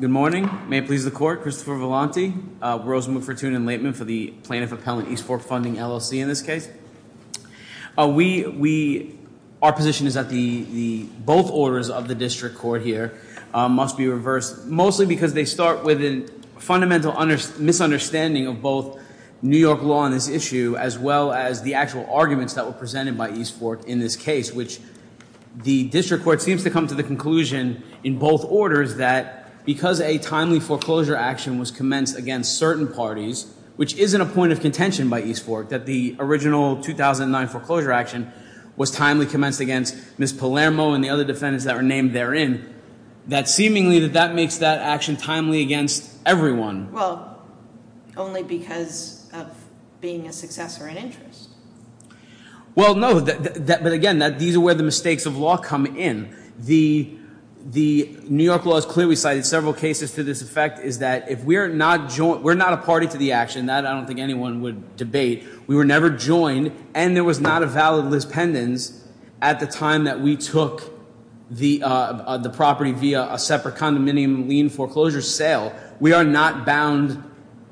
Good morning. May it please the Court, Christopher Vellante, Rosenwood, Fortuna, and Laitman for the Plaintiff Appellant East Fork Funding LLC in this case. Our position is that both orders of the District Court here must be reversed, mostly because they start with a fundamental misunderstanding of both New York law on this issue, as well as the actual arguments that were presented by East Fork in this case, which the District Court seems to come to the conclusion in both orders that because a timely foreclosure action was commenced against certain parties, which isn't a point of contention by East Fork, that the original 2009 foreclosure action was timely commenced against Ms. Palermo and the other defendants that were named therein, that seemingly that that makes that action timely against everyone. Well, only because of being a successor in interest. Well, no, but again, these are where the mistakes of law come in. The New York law has clearly cited several cases to this effect, is that if we're not a party to the action, that I don't think anyone would debate, we were never joined, and there was not a valid lispendence at the time that we took the property via a separate condominium lien foreclosure sale. We are not bound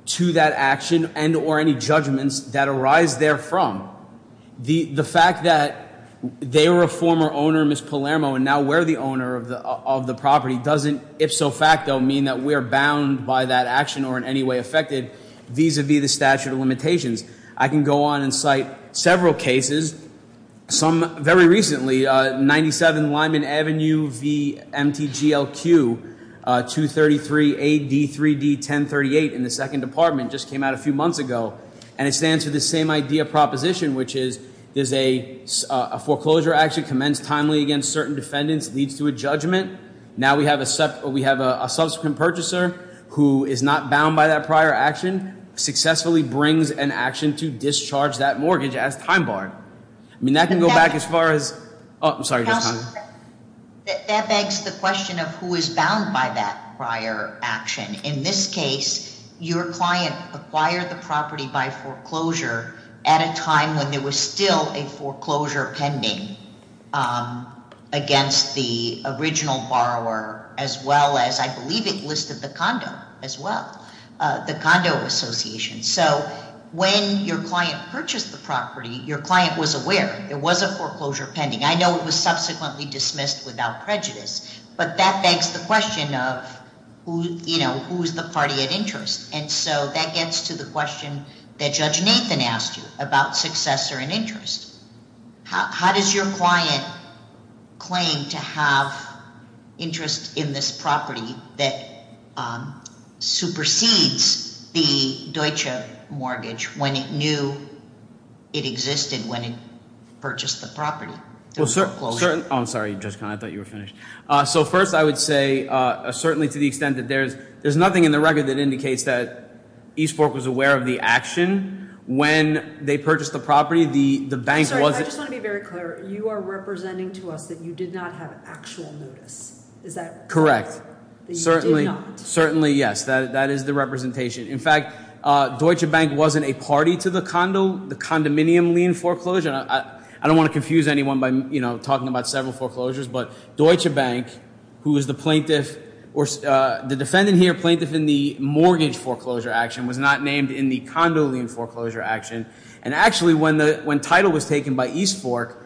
to that action and or any judgments that arise there from. The fact that they were a former owner, Ms. Palermo, and now we're the owner of the property, doesn't ipso facto mean that we're bound by that action or in any way affected vis-a-vis the statute of limitations. I can go on and cite several cases. Some very recently, 97 Lyman Avenue v. MTGLQ, 233AD3D1038 in the second department just came out a few months ago. And it stands for the same idea proposition, which is there's a foreclosure action commenced timely against certain defendants leads to a judgment. Now we have a subsequent purchaser who is not bound by that prior action successfully brings an action to discharge that mortgage as time barred. I mean, that can go back as far as, I'm sorry. That begs the question of who is bound by that prior action. In this case, your client acquired the property by foreclosure at a time when there was still a foreclosure pending against the original borrower. As well as I believe it listed the condo as well, the condo association. So when your client purchased the property, your client was aware. It was a foreclosure pending. I know it was subsequently dismissed without prejudice. But that begs the question of who is the party at interest. And so that gets to the question that Judge Nathan asked you about successor and interest. How does your client claim to have interest in this property that supersedes the Deutsche mortgage when it knew it existed when it purchased the property? I'm sorry, Judge Conn. I thought you were finished. So first I would say, certainly to the extent that there's nothing in the record that indicates that East Fork was aware of the action when they purchased the property. The bank was- I just want to be very clear. You are representing to us that you did not have actual notice. Is that- Correct. That you did not. Certainly, yes. That is the representation. In fact, Deutsche Bank wasn't a party to the condo, the condominium lien foreclosure. I don't want to confuse anyone by talking about several foreclosures. But Deutsche Bank, who was the plaintiff-the defendant here, plaintiff in the mortgage foreclosure action, was not named in the condo lien foreclosure action. And actually, when title was taken by East Fork,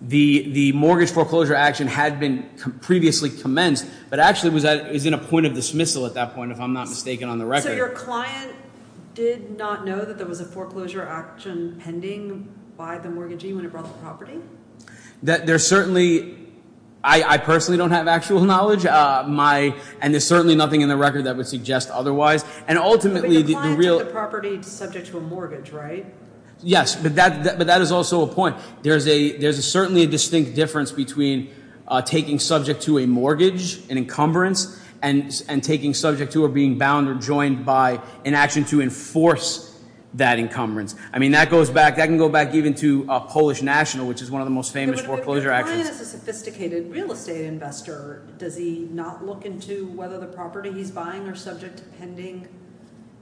the mortgage foreclosure action had been previously commenced but actually was in a point of dismissal at that point, if I'm not mistaken, on the record. So your client did not know that there was a foreclosure action pending by the mortgagee when he brought the property? There certainly-I personally don't have actual knowledge. My-and there's certainly nothing in the record that would suggest otherwise. And ultimately, the real- But your client took the property subject to a mortgage, right? Yes. But that is also a point. There's certainly a distinct difference between taking subject to a mortgage, an encumbrance, and taking subject to or being bound or joined by an action to enforce that encumbrance. I mean, that goes back-that can go back even to Polish National, which is one of the most famous foreclosure actions. But if your client is a sophisticated real estate investor, does he not look into whether the property he's buying are subject to pending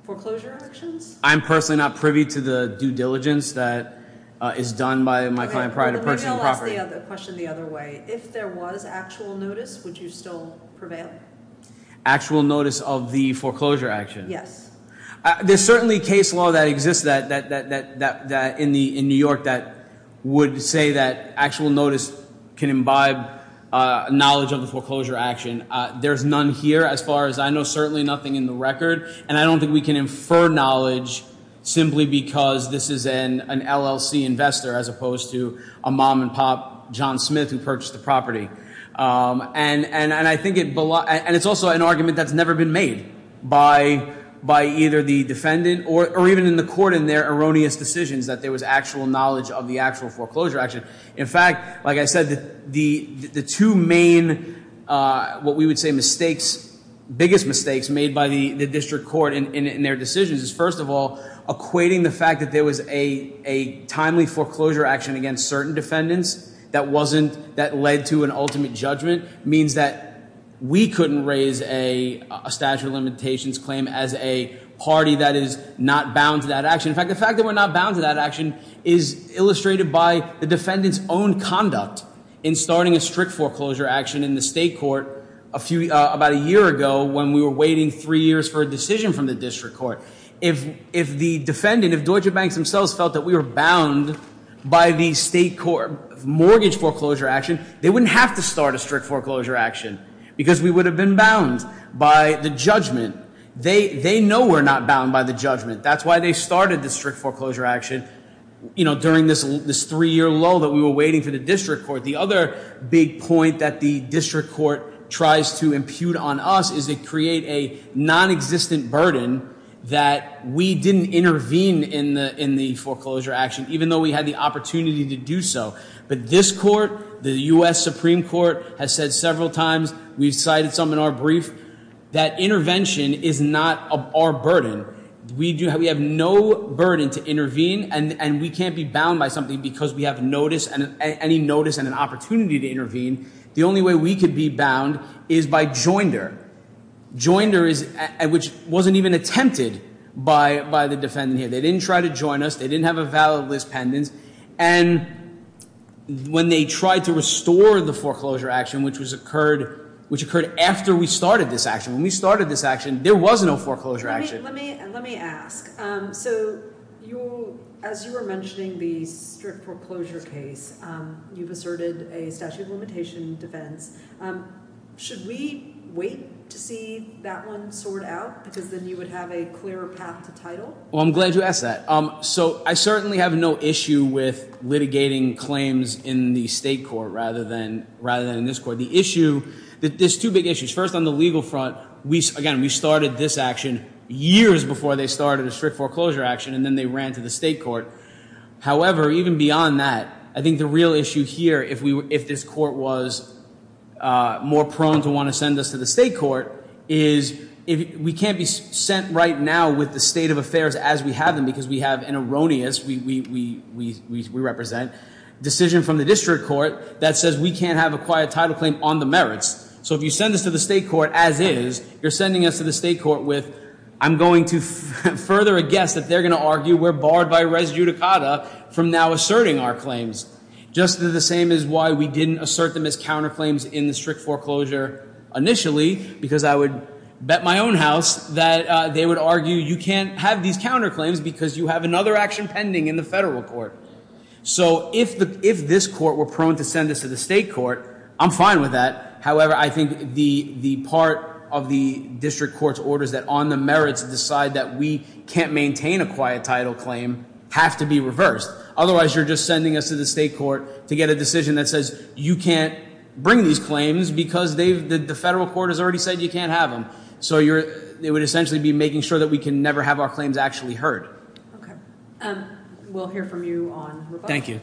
foreclosure actions? I'm personally not privy to the due diligence that is done by my client prior to purchasing the property. Let me ask the question the other way. If there was actual notice, would you still prevail? Actual notice of the foreclosure action? Yes. There's certainly case law that exists in New York that would say that actual notice can imbibe knowledge of the foreclosure action. There's none here as far as I know, certainly nothing in the record. And I don't think we can infer knowledge simply because this is an LLC investor as opposed to a mom-and-pop John Smith who purchased the property. And I think it-and it's also an argument that's never been made by either the defendant or even in the court in their erroneous decisions that there was actual knowledge of the actual foreclosure action. In fact, like I said, the two main what we would say mistakes, biggest mistakes made by the district court in their decisions is first of all equating the fact that there was a timely foreclosure action against certain defendants that wasn't-that led to an ultimate judgment means that we couldn't raise a statute of limitations claim as a party that is not bound to that action. In fact, the fact that we're not bound to that action is illustrated by the defendant's own conduct in starting a strict foreclosure action in the state court a few-about a year ago when we were waiting three years for a decision from the district court. If the defendant, if Deutsche Bank themselves felt that we were bound by the state court mortgage foreclosure action, they wouldn't have to start a strict foreclosure action because we would have been bound by the judgment. They know we're not bound by the judgment. That's why they started the strict foreclosure action during this three-year low that we were waiting for the district court. The other big point that the district court tries to impute on us is they create a nonexistent burden that we didn't intervene in the foreclosure action even though we had the opportunity to do so. But this court, the U.S. Supreme Court, has said several times, we've cited some in our brief, that intervention is not our burden. We have no burden to intervene, and we can't be bound by something because we have notice and any notice and an opportunity to intervene. The only way we could be bound is by joinder. Joinder, which wasn't even attempted by the defendant here. They didn't try to join us. They didn't have a valid list pendants. And when they tried to restore the foreclosure action, which occurred after we started this action, when we started this action, there was no foreclosure action. Let me ask. So as you were mentioning the strict foreclosure case, you've asserted a statute of limitation defense. Should we wait to see that one sort out because then you would have a clearer path to title? Well, I'm glad you asked that. So I certainly have no issue with litigating claims in the state court rather than in this court. There's two big issues. First, on the legal front, again, we started this action years before they started a strict foreclosure action, and then they ran to the state court. However, even beyond that, I think the real issue here, if this court was more prone to want to send us to the state court, is we can't be sent right now with the state of affairs as we have them because we have an erroneous, we represent, decision from the district court that says we can't have a quiet title claim on the merits. So if you send us to the state court as is, you're sending us to the state court with, I'm going to further a guess that they're going to argue we're barred by res judicata from now asserting our claims. Just as the same as why we didn't assert them as counterclaims in the strict foreclosure initially, because I would bet my own house that they would argue you can't have these counterclaims because you have another action pending in the federal court. So if this court were prone to send us to the state court, I'm fine with that. However, I think the part of the district court's orders that on the merits decide that we can't maintain a quiet title claim have to be reversed. Otherwise, you're just sending us to the state court to get a decision that says you can't bring these claims because the federal court has already said you can't have them. So they would essentially be making sure that we can never have our claims actually heard. We'll hear from you on rebuttal. Thank you.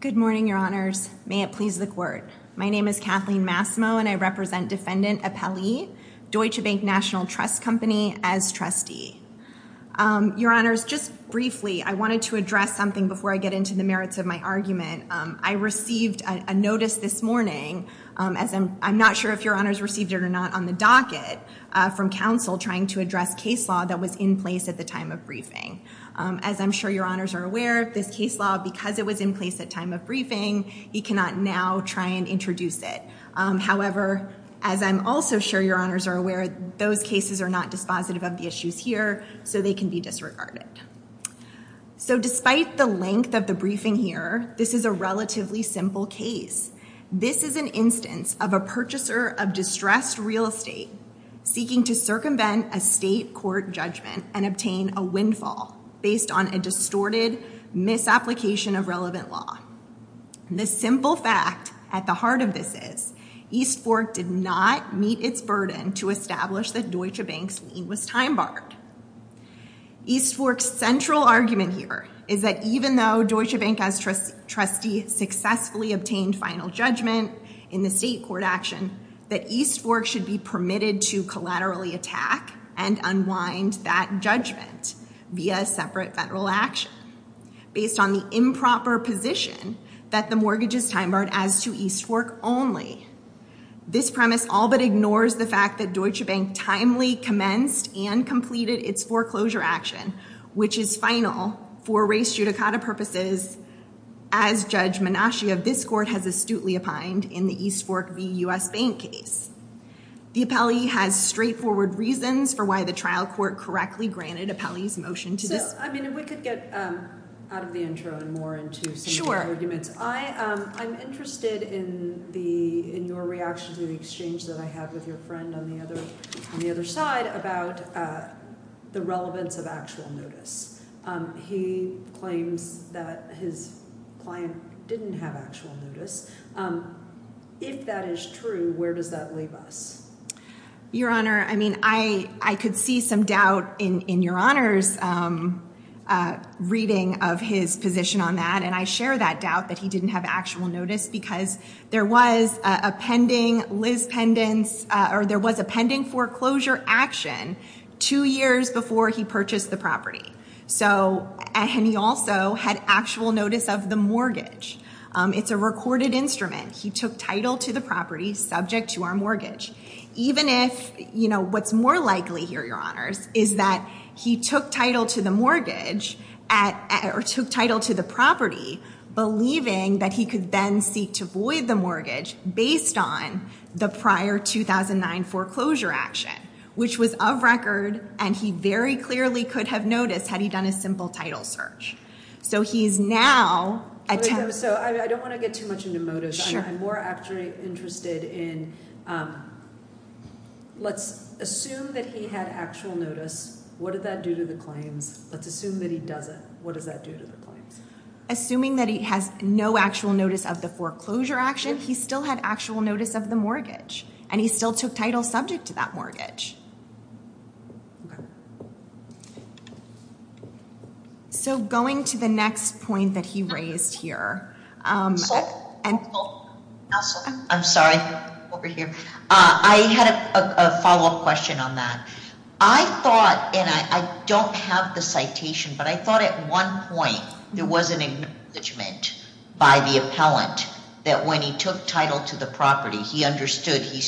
Good morning, Your Honors. May it please the court. My name is Kathleen Massimo, and I represent Defendant Appelli, Deutsche Bank National Trust Company, as trustee. Your Honors, just briefly, I wanted to address something before I get into the merits of my argument. I received a notice this morning, as I'm not sure if Your Honors received it or not, on the docket from counsel trying to address case law that was in place at the time of briefing. As I'm sure Your Honors are aware, this case law, because it was in place at time of briefing, he cannot now try and introduce it. However, as I'm also sure Your Honors are aware, those cases are not dispositive of the issues here, so they can be disregarded. So despite the length of the briefing here, this is a relatively simple case. This is an instance of a purchaser of distressed real estate seeking to circumvent a state court judgment and obtain a windfall based on a distorted misapplication of relevant law. The simple fact at the heart of this is, East Fork did not meet its burden to establish that Deutsche Bank's lien was time-barred. East Fork's central argument here is that even though Deutsche Bank as trustee successfully obtained final judgment in the state court action, that East Fork should be permitted to collaterally attack and unwind that judgment via separate federal action, based on the improper position that the mortgage is time-barred as to East Fork only. This premise all but ignores the fact that Deutsche Bank timely commenced and completed its foreclosure action, which is final for race judicata purposes as Judge Menasche of this court has astutely opined in the East Fork v. U.S. Bank case. The appellee has straightforward reasons for why the trial court correctly granted appellee's motion to this. I mean, if we could get out of the intro and more into some of the arguments. I'm interested in your reaction to the exchange that I had with your friend on the other side about the relevance of actual notice. He claims that his client didn't have actual notice. If that is true, where does that leave us? Your Honor, I mean, I could see some doubt in your Honor's reading of his position on that, and I share that doubt that he didn't have actual notice because there was a pending foreclosure action two years before he purchased the property. And he also had actual notice of the mortgage. It's a recorded instrument. He took title to the property subject to our mortgage. Even if, you know, what's more likely here, Your Honors, is that he took title to the mortgage or took title to the property, believing that he could then seek to void the mortgage based on the prior 2009 foreclosure action, which was of record and he very clearly could have noticed had he done a simple title search. So I don't want to get too much into motives. I'm more actually interested in let's assume that he had actual notice. What did that do to the claims? Let's assume that he doesn't. What does that do to the claims? Assuming that he has no actual notice of the foreclosure action, he still had actual notice of the mortgage, and he still took title subject to that mortgage. So going to the next point that he raised here. I'm sorry. Over here. I had a follow-up question on that. I thought, and I don't have the citation, but I thought at one point there was an acknowledgement by the appellant that when he took title to the property, he understood he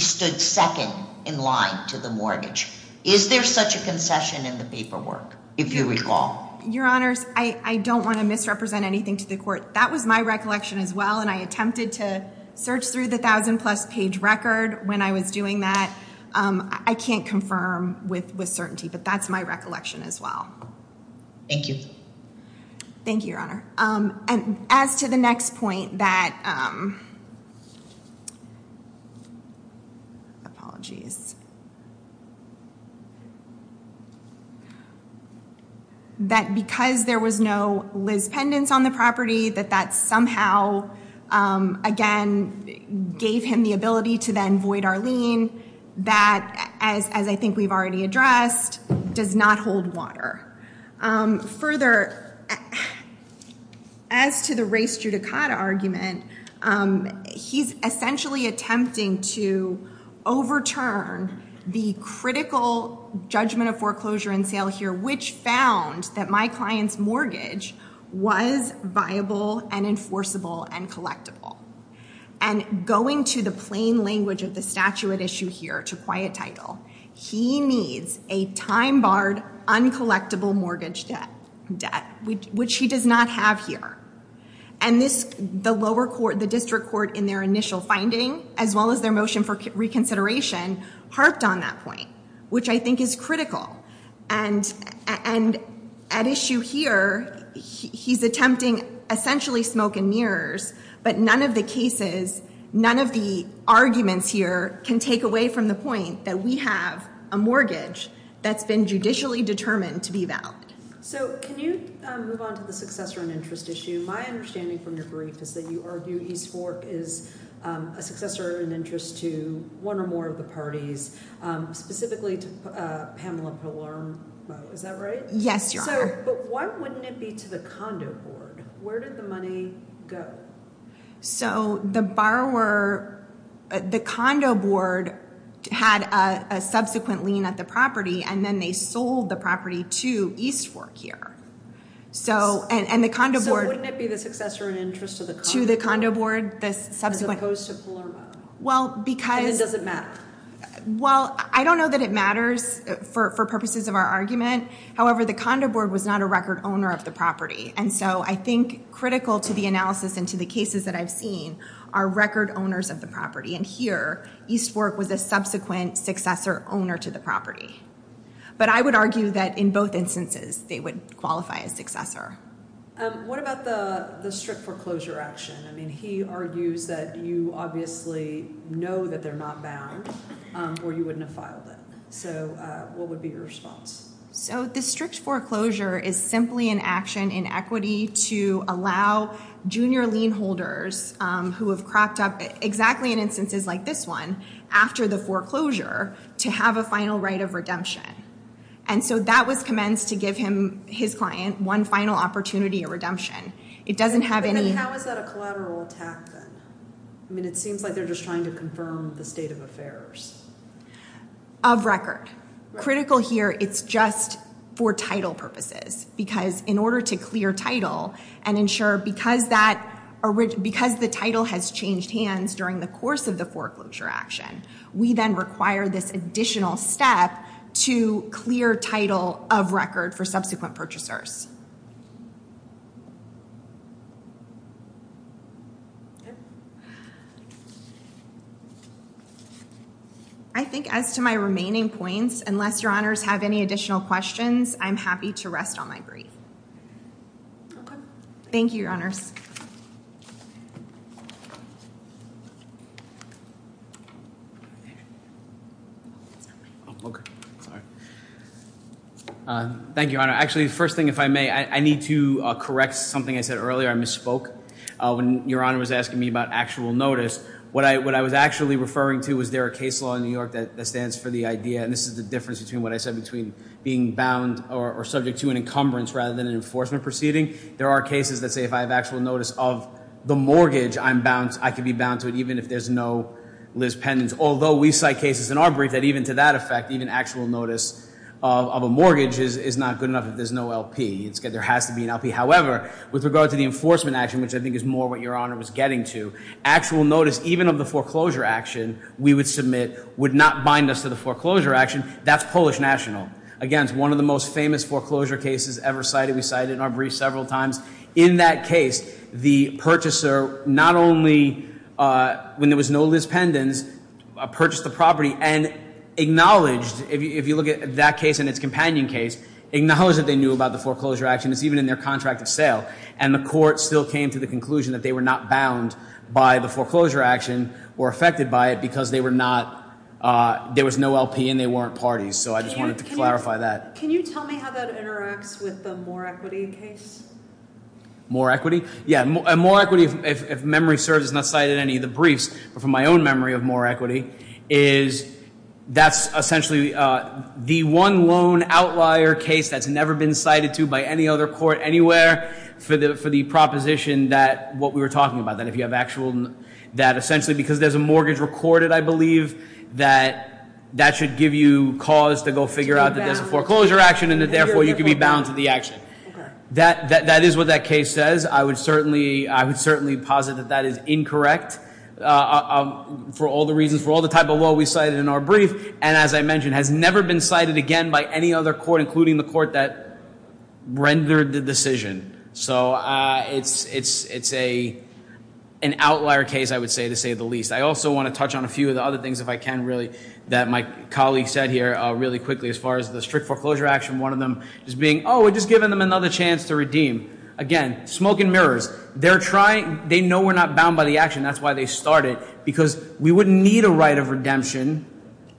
stood second in line to the mortgage. Is there such a concession in the paperwork, if you recall? Your Honors, I don't want to misrepresent anything to the court. That was my recollection as well, and I attempted to search through the 1,000-plus page record when I was doing that. I can't confirm with certainty, but that's my recollection as well. Thank you. Thank you, Your Honor. As to the next point, that because there was no Liz Pendence on the property, that that somehow, again, gave him the ability to then void our lien. That, as I think we've already addressed, does not hold water. Further, as to the race judicata argument, he's essentially attempting to overturn the critical judgment of foreclosure and sale here, which found that my client's mortgage was viable and enforceable and collectible. Going to the plain language of the statute at issue here to quiet title, he needs a time-barred, uncollectible mortgage debt, which he does not have here. The lower court, the district court, in their initial finding, as well as their motion for reconsideration, harped on that point, which I think is critical. At issue here, he's attempting essentially smoke and mirrors, but none of the cases, none of the arguments here can take away from the point that we have a mortgage that's been judicially determined to be valid. Can you move on to the successor and interest issue? My understanding from your brief is that you argue East Fork is a successor and interest to one or more of the parties, specifically to Pamela Palermo. Is that right? Yes, Your Honor. Why wouldn't it be to the condo board? Where did the money go? So the borrower, the condo board had a subsequent lien at the property, and then they sold the property to East Fork here. So wouldn't it be the successor and interest to the condo board as opposed to Palermo? And then does it matter? Well, I don't know that it matters for purposes of our argument. However, the condo board was not a record owner of the property, and so I think critical to the analysis and to the cases that I've seen are record owners of the property, and here East Fork was a subsequent successor owner to the property. But I would argue that in both instances they would qualify as successor. What about the strict foreclosure action? I mean, he argues that you obviously know that they're not bound or you wouldn't have filed it. So what would be your response? So the strict foreclosure is simply an action in equity to allow junior lien holders who have cropped up exactly in instances like this one after the foreclosure to have a final right of redemption. And so that was commenced to give him, his client, one final opportunity of redemption. But then how is that a collateral attack then? I mean, it seems like they're just trying to confirm the state of affairs. Of record. Critical here, it's just for title purposes because in order to clear title and ensure because the title has changed hands during the course of the foreclosure action, we then require this additional step to clear title of record for subsequent purchasers. I think as to my remaining points, unless Your Honors have any additional questions, I'm happy to rest on my breath. Okay. Thank you, Your Honors. Thank you, Your Honor. Actually, first thing, if I may, I need to correct something I said earlier. I misspoke. When Your Honor was asking me about actual notice, what I was actually referring to was there a case law in New York that stands for the idea, and this is the difference between what I said between being bound or subject to an encumbrance rather than an enforcement proceeding. There are cases that say if I have actual notice of the mortgage, I can be bound to it even if there's no Liz Penance. Although we cite cases in our brief that even to that effect, even actual notice of a mortgage is not good enough if there's no LP. There has to be an LP. However, with regard to the enforcement action, which I think is more what Your Honor was getting to, actual notice even of the foreclosure action we would submit would not bind us to the foreclosure action. That's Polish National. Again, it's one of the most famous foreclosure cases ever cited. We cite it in our brief several times. In that case, the purchaser not only, when there was no Liz Penance, purchased the property and acknowledged, if you look at that case and its companion case, acknowledged that they knew about the foreclosure action. It's even in their contract of sale. And the court still came to the conclusion that they were not bound by the foreclosure action or affected by it because there was no LP and they weren't parties. So I just wanted to clarify that. Can you tell me how that interacts with the Moore equity case? Moore equity? Yeah. Moore equity, if memory serves, is not cited in any of the briefs. But from my own memory of Moore equity is that's essentially the one loan outlier case that's never been cited to by any other court anywhere for the proposition that what we were talking about, that if you have actual, that essentially because there's a mortgage recorded, I believe, that that should give you cause to go figure out that there's a foreclosure action and that therefore you can be bound to the action. That is what that case says. I would certainly posit that that is incorrect for all the reasons, for all the type of law we cited in our brief, and as I mentioned, has never been cited again by any other court, including the court that rendered the decision. So it's an outlier case, I would say, to say the least. I also want to touch on a few of the other things, if I can, really, that my colleague said here really quickly as far as the strict foreclosure action, one of them just being, oh, we're just giving them another chance to redeem. Again, smoke and mirrors. They know we're not bound by the action. Because we wouldn't need a right of redemption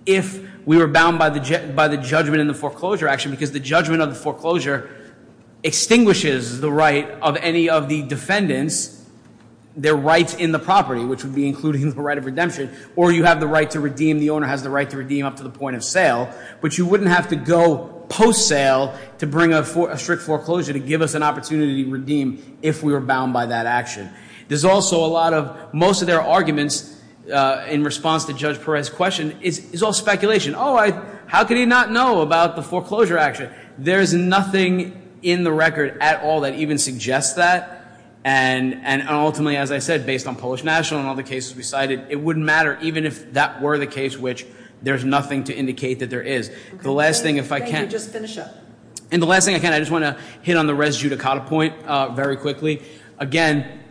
if we were bound by the judgment in the foreclosure action because the judgment of the foreclosure extinguishes the right of any of the defendants, their rights in the property, which would be including the right of redemption, or you have the right to redeem, the owner has the right to redeem up to the point of sale, but you wouldn't have to go post-sale to bring a strict foreclosure to give us an opportunity to redeem if we were bound by that action. There's also a lot of, most of their arguments in response to Judge Perez's question is all speculation. Oh, how could he not know about the foreclosure action? There's nothing in the record at all that even suggests that. And ultimately, as I said, based on Polish National and all the cases we cited, it wouldn't matter even if that were the case, which there's nothing to indicate that there is. The last thing, if I can. Thank you. Just finish up. And the last thing, again, I just want to hit on the res judicata point very quickly. Again,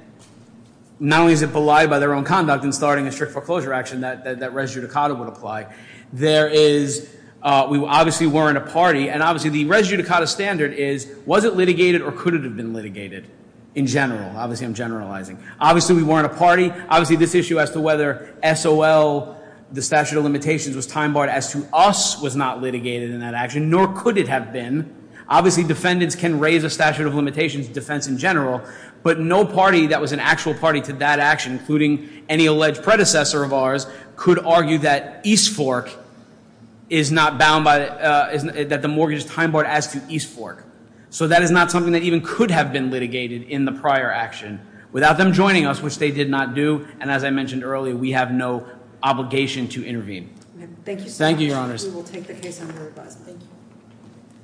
not only is it belied by their own conduct in starting a strict foreclosure action, that res judicata would apply. There is, we obviously weren't a party, and obviously the res judicata standard is, was it litigated or could it have been litigated in general? Obviously I'm generalizing. Obviously we weren't a party. Obviously this issue as to whether SOL, the statute of limitations, was time-barred as to us was not litigated in that action, nor could it have been. Obviously defendants can raise a statute of limitations defense in general, but no party that was an actual party to that action, including any alleged predecessor of ours, could argue that East Fork is not bound by, that the mortgage is time-barred as to East Fork. So that is not something that even could have been litigated in the prior action without them joining us, which they did not do. And as I mentioned earlier, we have no obligation to intervene. Thank you so much. Thank you, Your Honors. We will take the case under revising. Thank you.